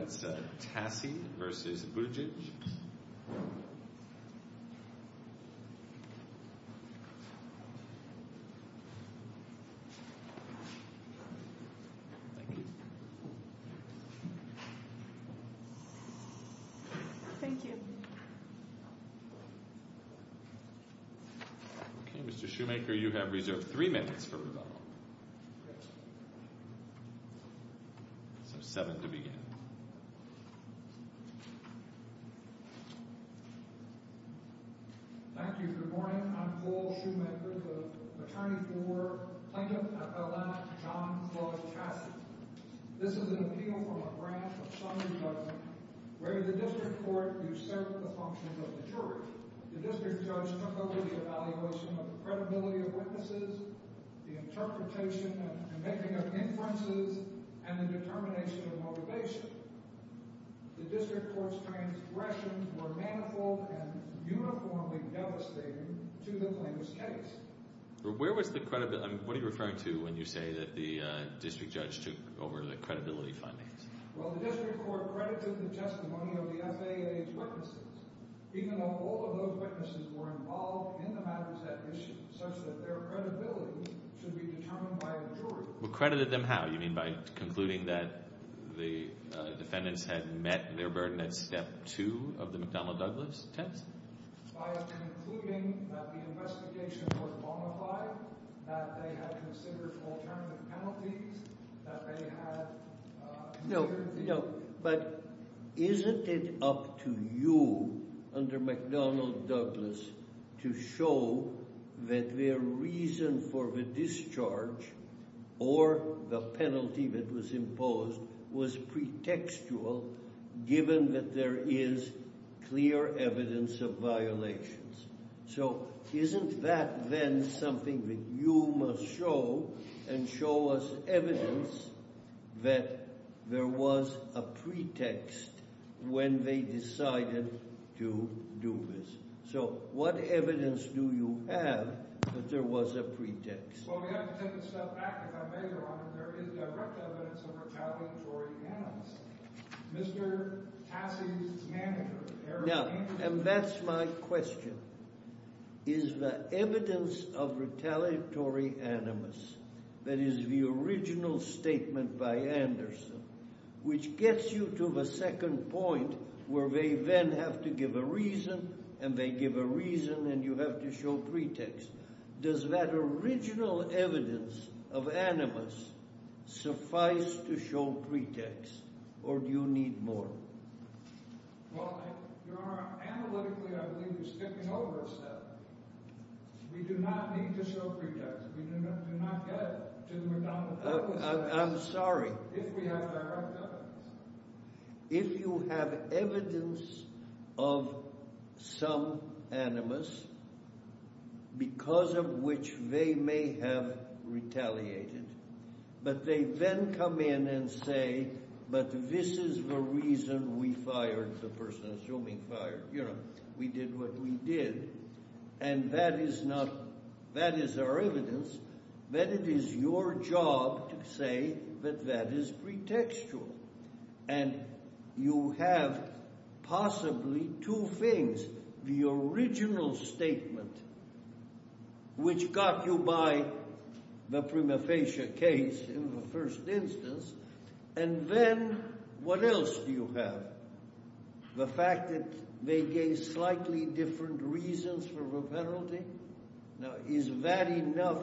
Okay, Mr. Shoemaker, you have reserved three minutes for rebuttal, so seven to begin. Thank you. Good morning. I'm Paul Shoemaker, the attorney for plaintiff at Atlanta, John Clutch Tassy. This is an appeal from a branch of Sunday government where the District Court usurped the functions of the jury. The District Judge took over the evaluation of the credibility of witnesses, the interpretation and making of inferences, and the determination of motivation. The District Court's transgressions were manifold and uniformly devastating to the plaintiff's case. Where was the credibility? What are you referring to when you say that the District Judge took over the credibility findings? Well, the District Court credited the testimony of the FAA's witnesses, even though all of those witnesses were involved in the matters at issue, such that their credibility should be determined by the jury. Well, credited them how? You mean by concluding that the defendants had met their burden at Step 2 of the McDonnell-Douglas test? By concluding that the investigation was bonafide, that they had considered alternative penalties, that they had... So, isn't that then something that you must show and show us evidence that there was a pretext when they decided to do this? So, what evidence do you have that there was a pretext? Well, we have to take a step back. If I may, Your Honor, there is direct evidence of retaliatory violence. Mr. Tassi's manager, Eric Anderson... Now, and that's my question. Is the evidence of retaliatory animus, that is the original statement by Anderson, which gets you to the second point where they then have to give a reason, and they give a reason, and you have to show pretext. Does that original evidence of animus suffice to show pretext, or do you need more? Well, Your Honor, analytically, I believe we're skipping over a step. We do not need to show pretext. We do not get to the McDonnell-Douglas test... I'm sorry. ...if we have direct evidence. If you have evidence of some animus because of which they may have retaliated, but they then come in and say, but this is the reason we fired the person, assuming fired, you know, we did what we did, and that is our evidence, then it is your job to say that that is pretextual. And you have possibly two things, the original statement, which got you by the prima facie case in the first instance, and then what else do you have? The fact that they gave slightly different reasons for the penalty? Now, is that enough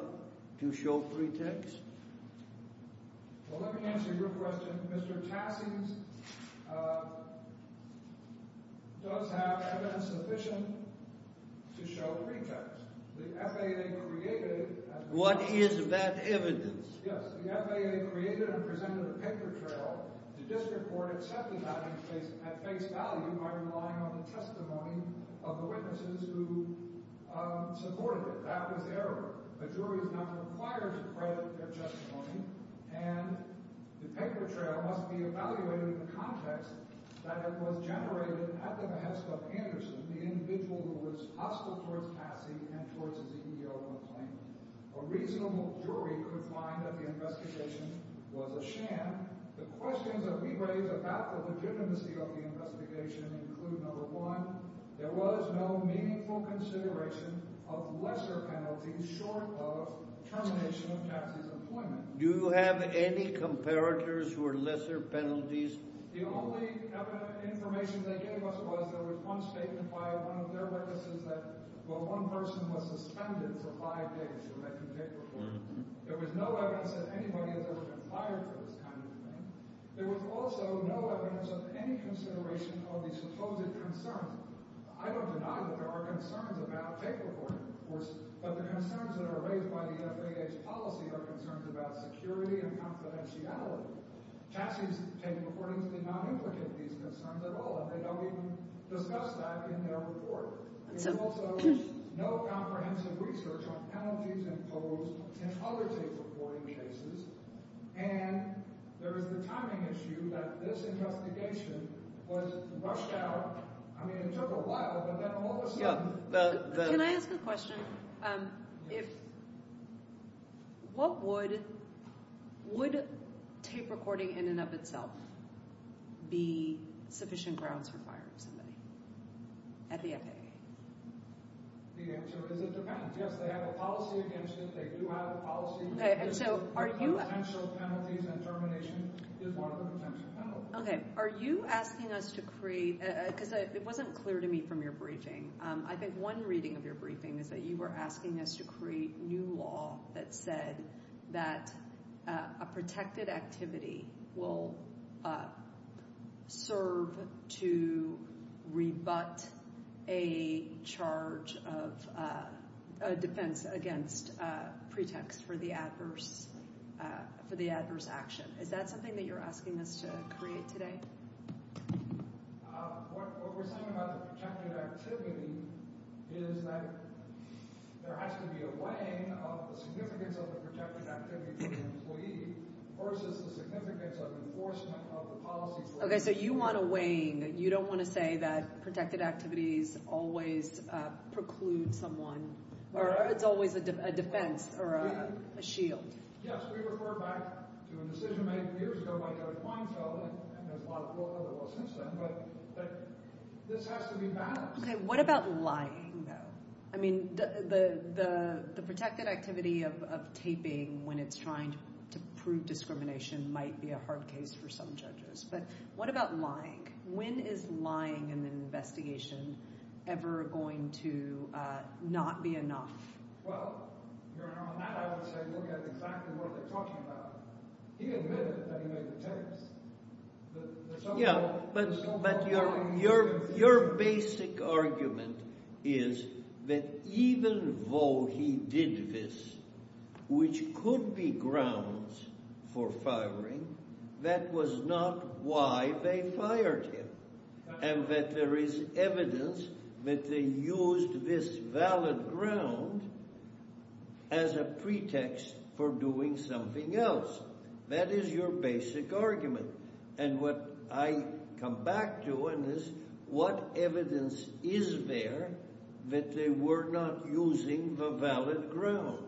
to show pretext? Well, let me answer your question. Mr. Tassie's does have evidence sufficient to show pretext. The FAA created... What is that evidence? Yes. The FAA created and presented a paper trail. The district court accepted that at face value by relying on the testimony of the witnesses who supported it. That was error. A jury is not required to credit their testimony, and the paper trail must be evaluated in the context that it was generated at the behest of Anderson, the individual who was hostile towards Tassie and towards his EEO on the claim. A reasonable jury could find that the investigation was a sham. The questions that we raise about the legitimacy of the investigation include, number one, there was no meaningful consideration of lesser penalties short of termination of Tassie's employment. Do you have any comparators for lesser penalties? The only evidence, information they gave us was there was one statement by one of their witnesses that, well, one person was suspended for five days for making tape recordings. There was no evidence that anybody has ever been fired for this kind of thing. There was also no evidence of any consideration of the supposed concerns. I don't deny that there are concerns about tape recording enforcement, but the concerns that are raised by the FAA's policy are concerns about security and confidentiality. Tassie's tape recordings did not implicate these concerns at all, and they don't even discuss that in their report. There was also no comprehensive research on penalties imposed in other tape recording cases, and there is the timing issue that this investigation was rushed out. I mean, it took a while, but then all of a sudden— Can I ask a question? What would tape recording in and of itself be sufficient grounds for firing somebody at the FAA? The answer is it depends. Yes, they have a policy against it. They do have a policy against it. Potential penalties and termination is one of the potential penalties. Okay. Are you asking us to create—because it wasn't clear to me from your briefing. I think one reading of your briefing is that you were asking us to create new law that said that a protected activity will serve to rebut a charge of a defense against pretext for the adverse action. Is that something that you're asking us to create today? What we're saying about the protected activity is that there has to be a weighing of the significance of a protected activity for an employee versus the significance of enforcement of the policy for an employee. Okay, so you want a weighing. You don't want to say that protected activities always preclude someone or it's always a defense or a shield. Yes, we refer back to a decision made years ago by Judge Weinfeld, and there's a lot of work on the law since then, but this has to be balanced. Okay, what about lying, though? I mean, the protected activity of taping when it's trying to prove discrimination might be a hard case for some judges, but what about lying? When is lying in an investigation ever going to not be enough? Well, on that I would say look at exactly what they're talking about. He admitted that he made the tapes. Yeah, but your basic argument is that even though he did this, which could be grounds for firing, that was not why they fired him. And that there is evidence that they used this valid ground as a pretext for doing something else. That is your basic argument. And what I come back to is what evidence is there that they were not using the valid ground?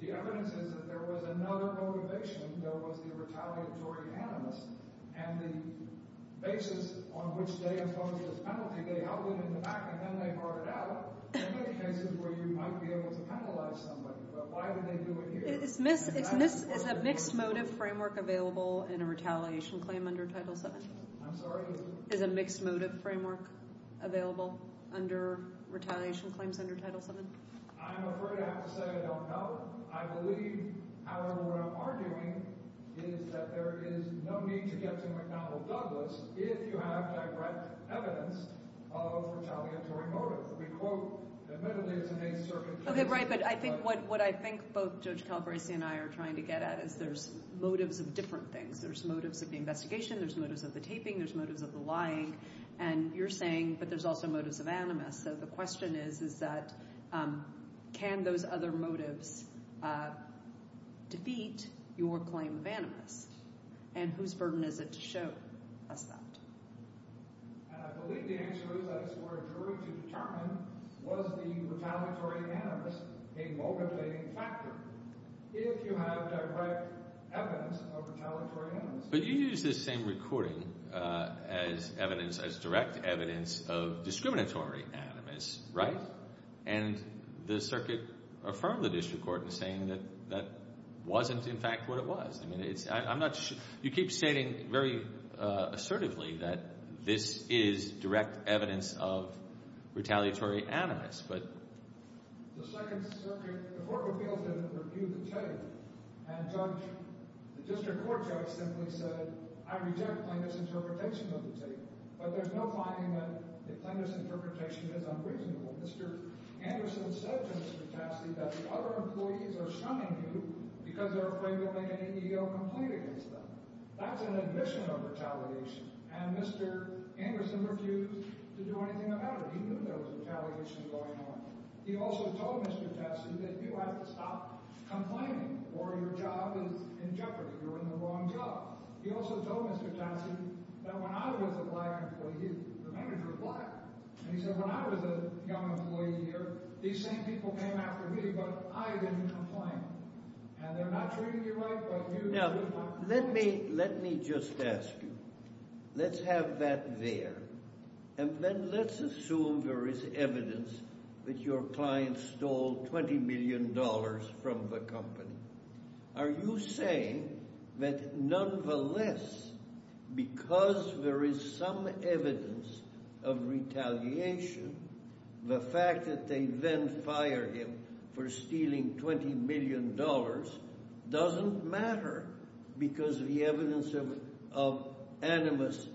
The evidence is that there was another motivation. There was the retaliatory animus, and the basis on which they imposed this penalty, they held him in the back and then they bartered out. There may be cases where you might be able to penalize somebody, but why did they do it here? Is a mixed motive framework available in a retaliation claim under Title VII? I'm sorry? Is a mixed motive framework available under retaliation claims under Title VII? I'm afraid I have to say I don't know. I believe, however, what I'm arguing is that there is no need to get to McDonnell Douglas if you have direct evidence of retaliatory motive. We quote, admittedly, it's in a circumstantial way. Okay, right, but I think what I think both Judge Calabresi and I are trying to get at is there's motives of different things. There's motives of the investigation, there's motives of the taping, there's motives of the lying, and you're saying but there's also motives of animus. So the question is, is that can those other motives defeat your claim of animus? And whose burden is it to show us that? I believe the answer is that it's for a jury to determine was the retaliatory animus a motivating factor if you have direct evidence of retaliatory animus. But you use this same recording as evidence, as direct evidence of discriminatory animus, right? And the circuit affirmed the district court in saying that that wasn't, in fact, what it was. I mean, it's – I'm not – you keep stating very assertively that this is direct evidence of retaliatory animus. The second circuit – the court revealed that it refused to tape. And Judge – the district court judge simply said, I reject plaintiff's interpretation of the tape. But there's no finding that the plaintiff's interpretation is unreasonable. Mr. Anderson said to Mr. Cassidy that the other employees are shunning you because they're afraid you'll make an EEO complaint against them. That's an admission of retaliation. And Mr. Anderson refused to do anything about it, even if there was retaliation going on. He also told Mr. Cassidy that you have to stop complaining or your job is in jeopardy, you're in the wrong job. He also told Mr. Cassidy that when I was a black employee, he – the manager was black. And he said, when I was a young employee here, these same people came after me, but I didn't complain. And they're not treating you right, but you – Now, let me – let me just ask you. Let's have that there. And then let's assume there is evidence that your client stole $20 million from the company. Are you saying that nonetheless, because there is some evidence of retaliation, the fact that they then fire him for stealing $20 million doesn't matter because the evidence of animus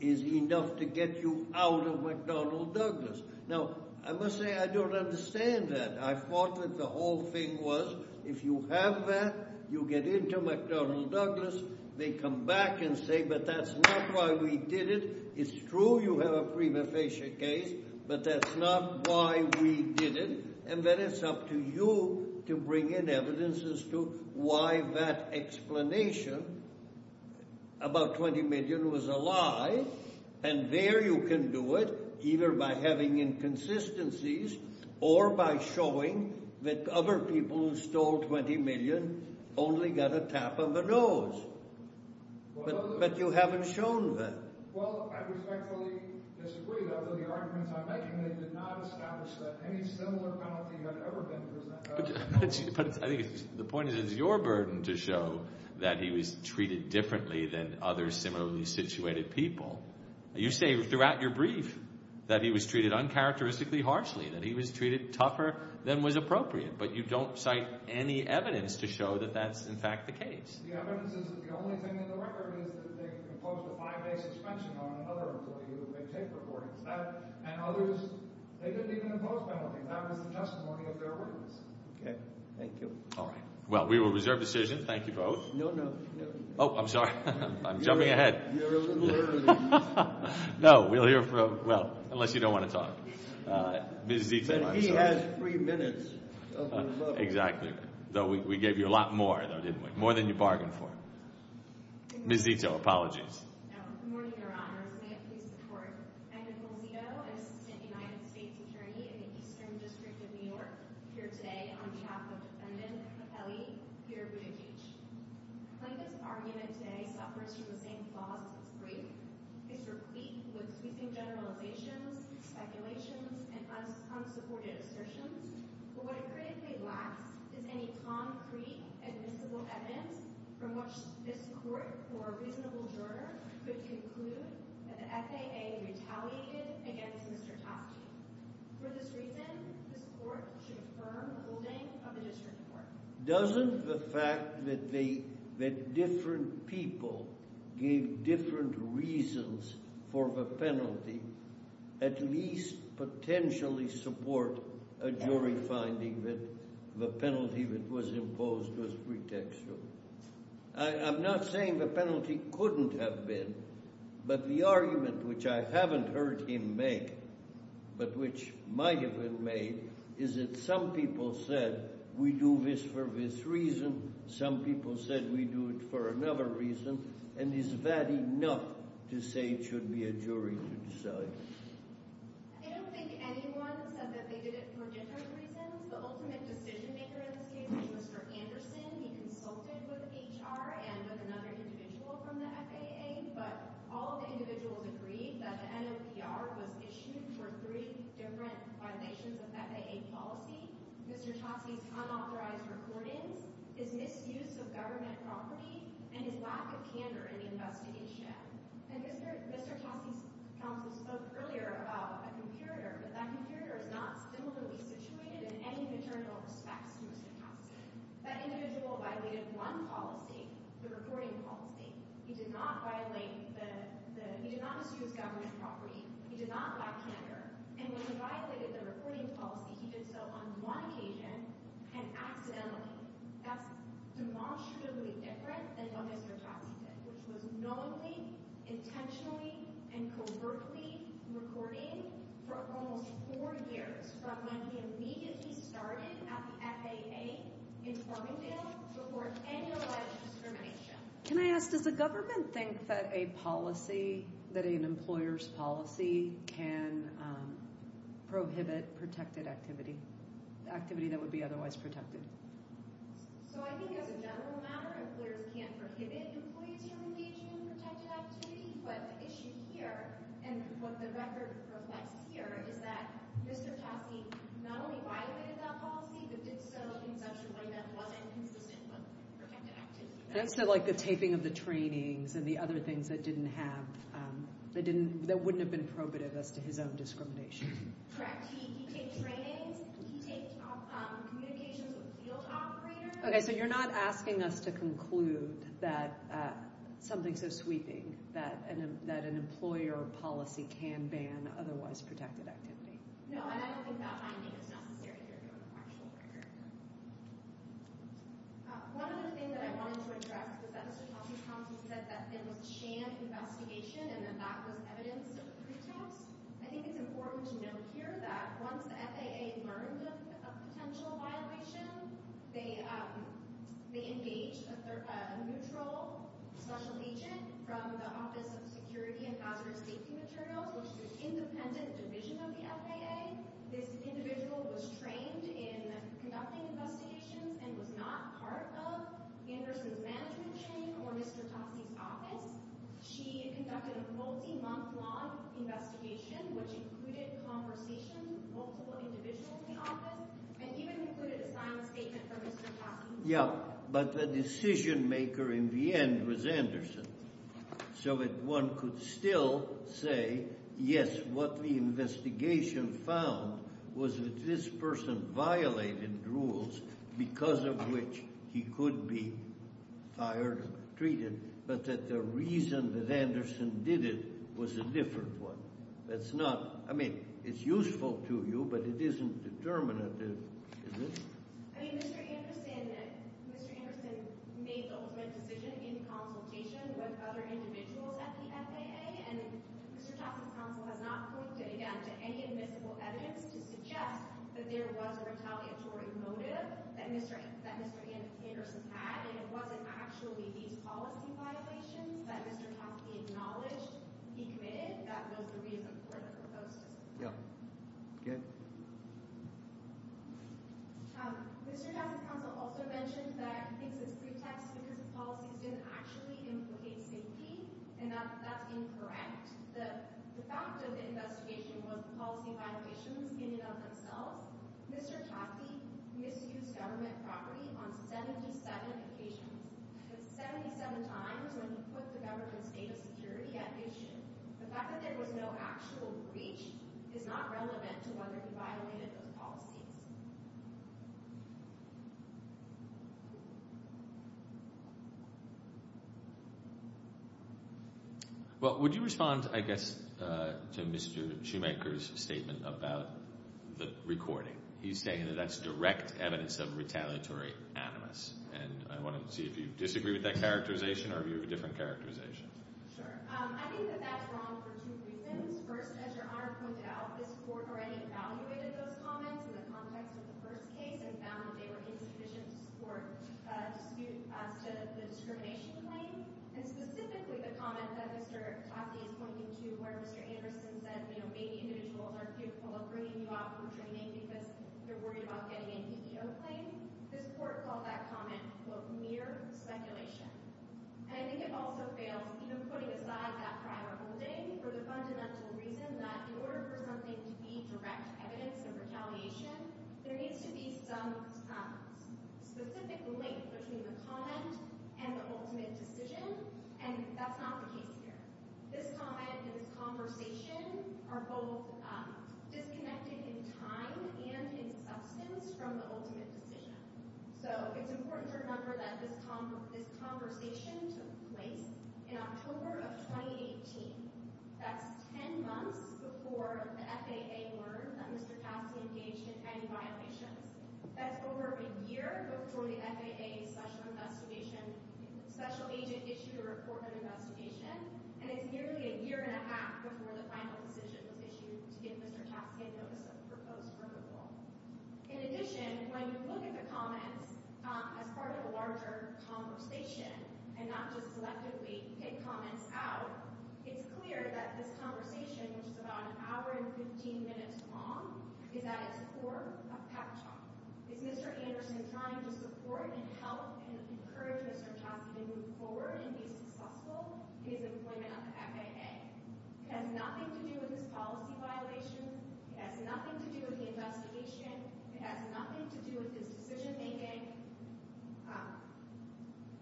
is enough to get you out of McDonnell Douglas? Now, I must say I don't understand that. I thought that the whole thing was if you have that, you get into McDonnell Douglas, they come back and say, but that's not why we did it. It's true you have a prima facie case, but that's not why we did it. And then it's up to you to bring in evidence as to why that explanation about $20 million was a lie. And there you can do it either by having inconsistencies or by showing that other people who stole $20 million only got a tap on the nose. But you haven't shown that. Well, I respectfully disagree, though, that the arguments I'm making, they did not establish that any similar penalty had ever been presented. But I think the point is it's your burden to show that he was treated differently than other similarly situated people. You say throughout your brief that he was treated uncharacteristically harshly, that he was treated tougher than was appropriate. But you don't cite any evidence to show that that's, in fact, the case. The evidence is that the only thing in the record is that they imposed a five-day suspension on another employee who made tape recordings. And others, they didn't even impose penalties. That was the testimony of their witness. Okay. Thank you. All right. Well, we will reserve decision. Thank you both. No, no. Oh, I'm sorry. I'm jumping ahead. You're a little early. No, we'll hear from, well, unless you don't want to talk. But he has three minutes. Exactly. We gave you a lot more, though, didn't we? More than you bargained for. Ms. Zito, apologies. Good morning, Your Honor. May it please the Court. I'm Nicole Zito. I'm Assistant United States Attorney in the Eastern District of New York. Here today on behalf of Defendant Kelly, Peter Buttigieg. Plaintiff's argument today suffers from the same flaws as his brief. It's replete with sweeping generalizations, speculations, and thus unsupported assertions. What it critically lacks is any concrete, admissible evidence from which this Court, for a reasonable juror, could conclude that the FAA retaliated against Mr. Toschi. For this reason, this Court should affirm the holding of the District Court. Doesn't the fact that different people gave different reasons for the penalty at least potentially support a jury finding that the penalty that was imposed was pretextual? I'm not saying the penalty couldn't have been, but the argument which I haven't heard him make, but which might have been made, is that some people said we do this for this reason, some people said we do it for another reason, and is that enough to say it should be a jury to decide? I don't think anyone said that they did it for different reasons. The ultimate decision-maker in this case was Mr. Anderson. He consulted with HR and with another individual from the FAA, but all the individuals agreed that the NOPR was issued for three different violations of FAA policy, Mr. Toschi's unauthorized recordings, his misuse of government property, and his lack of candor in the investigation. And Mr. Toschi's counsel spoke earlier about a comparator, but that comparator is not similarly situated in any maternal respects to Mr. Toschi. That individual violated one policy, the recording policy. He did not violate the—he did not misuse government property. He did not lack candor. And when he violated the recording policy, he did so on one occasion and accidentally. That's demonstrably different than what Mr. Toschi did, which was knowingly, intentionally, and covertly recording for almost four years from when he immediately started at the FAA in Farmingdale before any alleged discrimination. Can I ask, does the government think that a policy, that an employer's policy, can prohibit protected activity, activity that would be otherwise protected? So I think as a general matter, employers can't prohibit employees from engaging in protected activity. But the issue here, and what the record reflects here, is that Mr. Toschi not only violated that policy, but did so in such a way that wasn't consistent with protected activity. So like the taping of the trainings and the other things that didn't have— that wouldn't have been probative as to his own discrimination. Correct. He taped trainings. He taped communications with field operators. Okay, so you're not asking us to conclude that something so sweeping, that an employer policy can ban otherwise protected activity. No, and I don't think that finding is necessary if you're doing a factual record. One other thing that I wanted to address is that Mr. Toschi's comment, he said that it was a sham investigation and that that was evidence of pretext. I think it's important to note here that once the FAA learned of a potential violation, they engaged a neutral special agent from the Office of Security and Hazardous Safety Materials, which is an independent division of the FAA. This individual was trained in conducting investigations and was not part of Anderson's management chain or Mr. Toschi's office. She conducted a multi-month long investigation, which included conversations with multiple individuals in the office and even included a silent statement from Mr. Toschi. Yeah, but the decision maker in the end was Anderson. So one could still say, yes, what the investigation found was that this person violated rules because of which he could be fired or treated, but that the reason that Anderson did it was a different one. That's not, I mean, it's useful to you, but it isn't determinative, is it? I mean, Mr. Anderson made the ultimate decision in consultation with other individuals at the FAA, and Mr. Toschi's counsel has not pointed, again, to any admissible evidence to suggest that there was a retaliatory motive that Mr. Anderson had and it wasn't actually these policy violations that Mr. Toschi acknowledged he committed. That was the reason for the proposal. Yeah. Again? Mr. Toschi's counsel also mentioned that he thinks it's pretext because the policies didn't actually implicate safety, and that's incorrect. The fact of the investigation was the policy violations in and of themselves. Mr. Toschi misused government property on 77 occasions, 77 times when he put the government's data security at issue. The fact that there was no actual breach is not relevant to whether he violated those policies. Well, would you respond, I guess, to Mr. Shoemaker's statement about the recording? He's saying that that's direct evidence of retaliatory animus, and I want to see if you disagree with that characterization or if you have a different characterization. Sure. I think that that's wrong for two reasons. First, as Your Honor pointed out, this court already evaluated those comments in the context of the first case and found that they were insufficient to support a dispute as to the discrimination claim, and specifically the comment that Mr. Toschi is pointing to where Mr. Anderson said, you know, maybe individuals aren't fearful of bringing you out from training because they're worried about getting a DDO claim. This court called that comment, quote, mere speculation. And I think it also fails, even putting aside that prior holding, for the fundamental reason that in order for something to be direct evidence of retaliation, there needs to be some specific link between the comment and the ultimate decision, and that's not the case here. This comment and this conversation are both disconnected in time and in substance from the ultimate decision. So it's important to remember that this conversation took place in October of 2018. That's 10 months before the FAA learned that Mr. Toschi engaged in any violations. That's over a year before the FAA Special Agent issued a report of investigation, and it's nearly a year and a half before the final decision was issued to give Mr. Toschi a notice of proposed removal. In addition, when you look at the comments as part of a larger conversation and not just selectively pick comments out, it's clear that this conversation, which is about an hour and 15 minutes long, is at its core a pep talk. It's Mr. Anderson trying to support and help and encourage Mr. Toschi to move forward and be successful in his employment at the FAA. It has nothing to do with his policy violation. It has nothing to do with the investigation. It has nothing to do with his decision-making.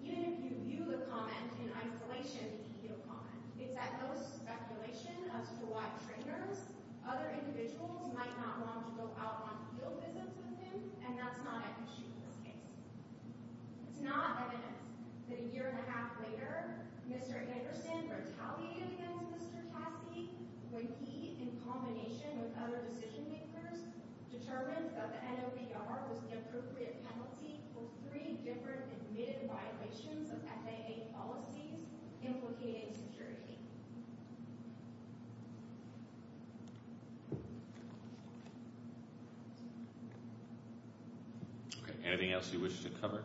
Even if you view the comment in isolation, you can get a comment. It's at most speculation as to why trainers, other individuals, might not want to go out on field visits with him, and that's not an issue in this case. It's not evidence that a year and a half later, Mr. Anderson retaliated against Mr. Toschi when he, in combination with other decision-makers, determined that the NOBR was the appropriate penalty for three different admitted violations of FAA policies implicating security. Anything else you wish to cover?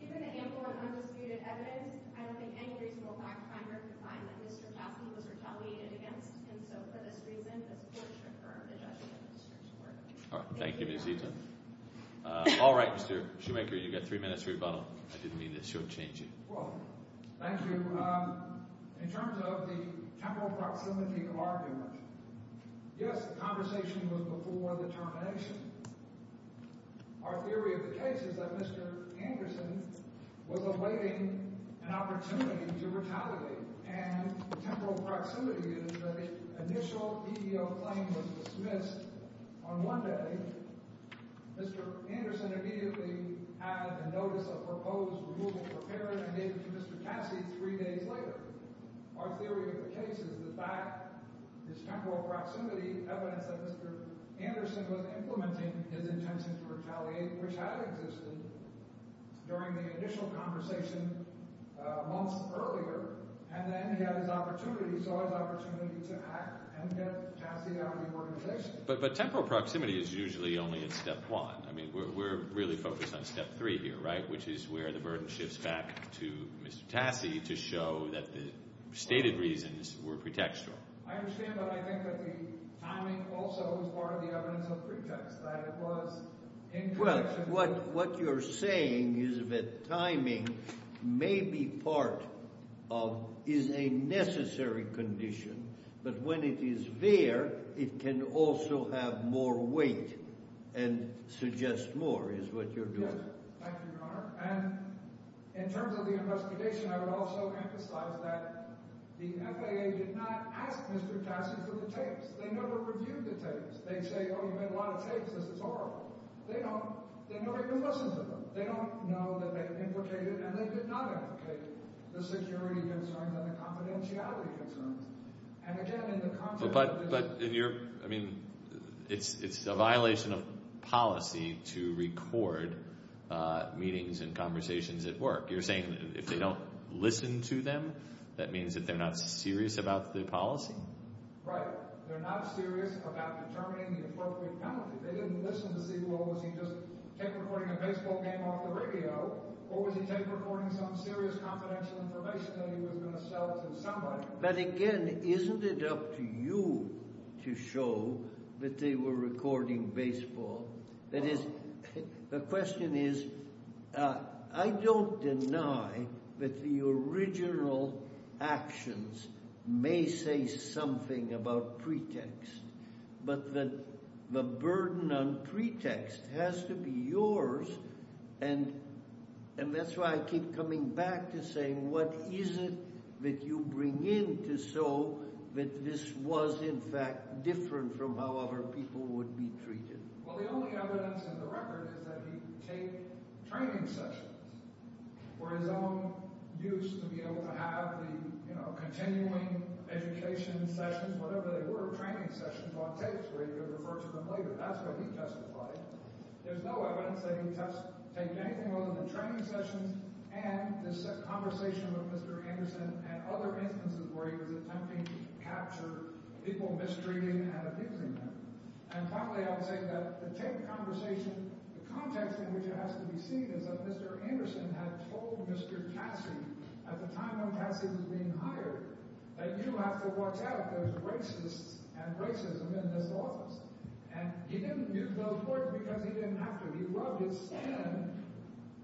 Given the ample and undisputed evidence, I don't think any reasonable fact finder could find that Mr. Toschi was retaliated against, and so, for this reason, this court should confirm the judgment of Mr. Toschi. All right. Thank you, Ms. Eaton. All right, Mr. Shoemaker, you've got three minutes to rebuttal. I didn't mean to shortchange you. Well, thank you. In terms of the temporal proximity of arguments, yes, the conversation was before the termination. Our theory of the case is that Mr. Anderson was awaiting an opportunity to retaliate, and the temporal proximity is that an initial EEO claim was dismissed on one day. Mr. Anderson immediately had a notice of proposed removal prepared and gave it to Mr. Cassie three days later. Our theory of the case is that that is temporal proximity, evidence that Mr. Anderson was implementing his intentions to retaliate, which had existed during the initial conversation months earlier, and then he had his opportunity to act and get Cassie out of the organization. But temporal proximity is usually only in step one. I mean, we're really focused on step three here, right, which is where the burden shifts back to Mr. Cassie to show that the stated reasons were pretextual. I understand, but I think that the timing also was part of the evidence of pretext, that it was in connection with— Well, what you're saying is that timing may be part of—is a necessary condition, but when it is there, it can also have more weight and suggest more is what you're doing. Thank you, Your Honor. And in terms of the investigation, I would also emphasize that the FAA did not ask Mr. Cassie for the tapes. They never reviewed the tapes. They'd say, oh, you made a lot of tapes. This is horrible. They don't—they never even listened to them. They don't know that they have implicated, and they did not implicate, the security concerns and the confidentiality concerns. But in your—I mean, it's a violation of policy to record meetings and conversations at work. You're saying if they don't listen to them, that means that they're not serious about the policy? Right. They're not serious about determining the appropriate penalty. They didn't listen to see, well, was he just tape recording a baseball game off the radio, or was he tape recording some serious confidential information that he was going to sell to somebody? But again, isn't it up to you to show that they were recording baseball? That is, the question is, I don't deny that the original actions may say something about pretext, but that the burden on pretext has to be yours, and that's why I keep coming back to saying, what is it that you bring in to show that this was, in fact, different from how other people would be treated? Well, the only evidence in the record is that he taped training sessions for his own use, to be able to have the continuing education sessions, whatever they were, training sessions on tapes, where he could refer to them later. That's what he testified. There's no evidence that he taped anything other than training sessions and this conversation with Mr. Anderson and other instances where he was attempting to capture people mistreating and abusing them. And finally, I would say that the tape conversation, the context in which it has to be seen, is that Mr. Anderson had told Mr. Cassie, at the time when Cassie was being hired, that you have to watch out if there's racists and racism in this office. And he didn't use those words because he didn't have to. He rubbed his skin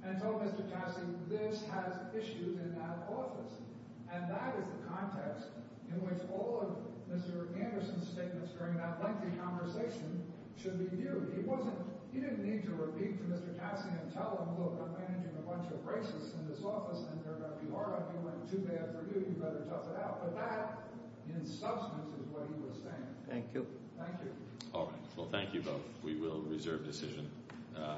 and told Mr. Cassie, this has issues in that office. And that is the context in which all of Mr. Anderson's statements during that lengthy conversation should be viewed. He didn't need to repeat to Mr. Cassie and tell him, look, we're managing a bunch of racists in this office, and they're going to be hard on you when it's too bad for you, you'd better tough it out. But that, in substance, is what he was saying. Thank you. Thank you. All right. Well, thank you both. We will reserve decision.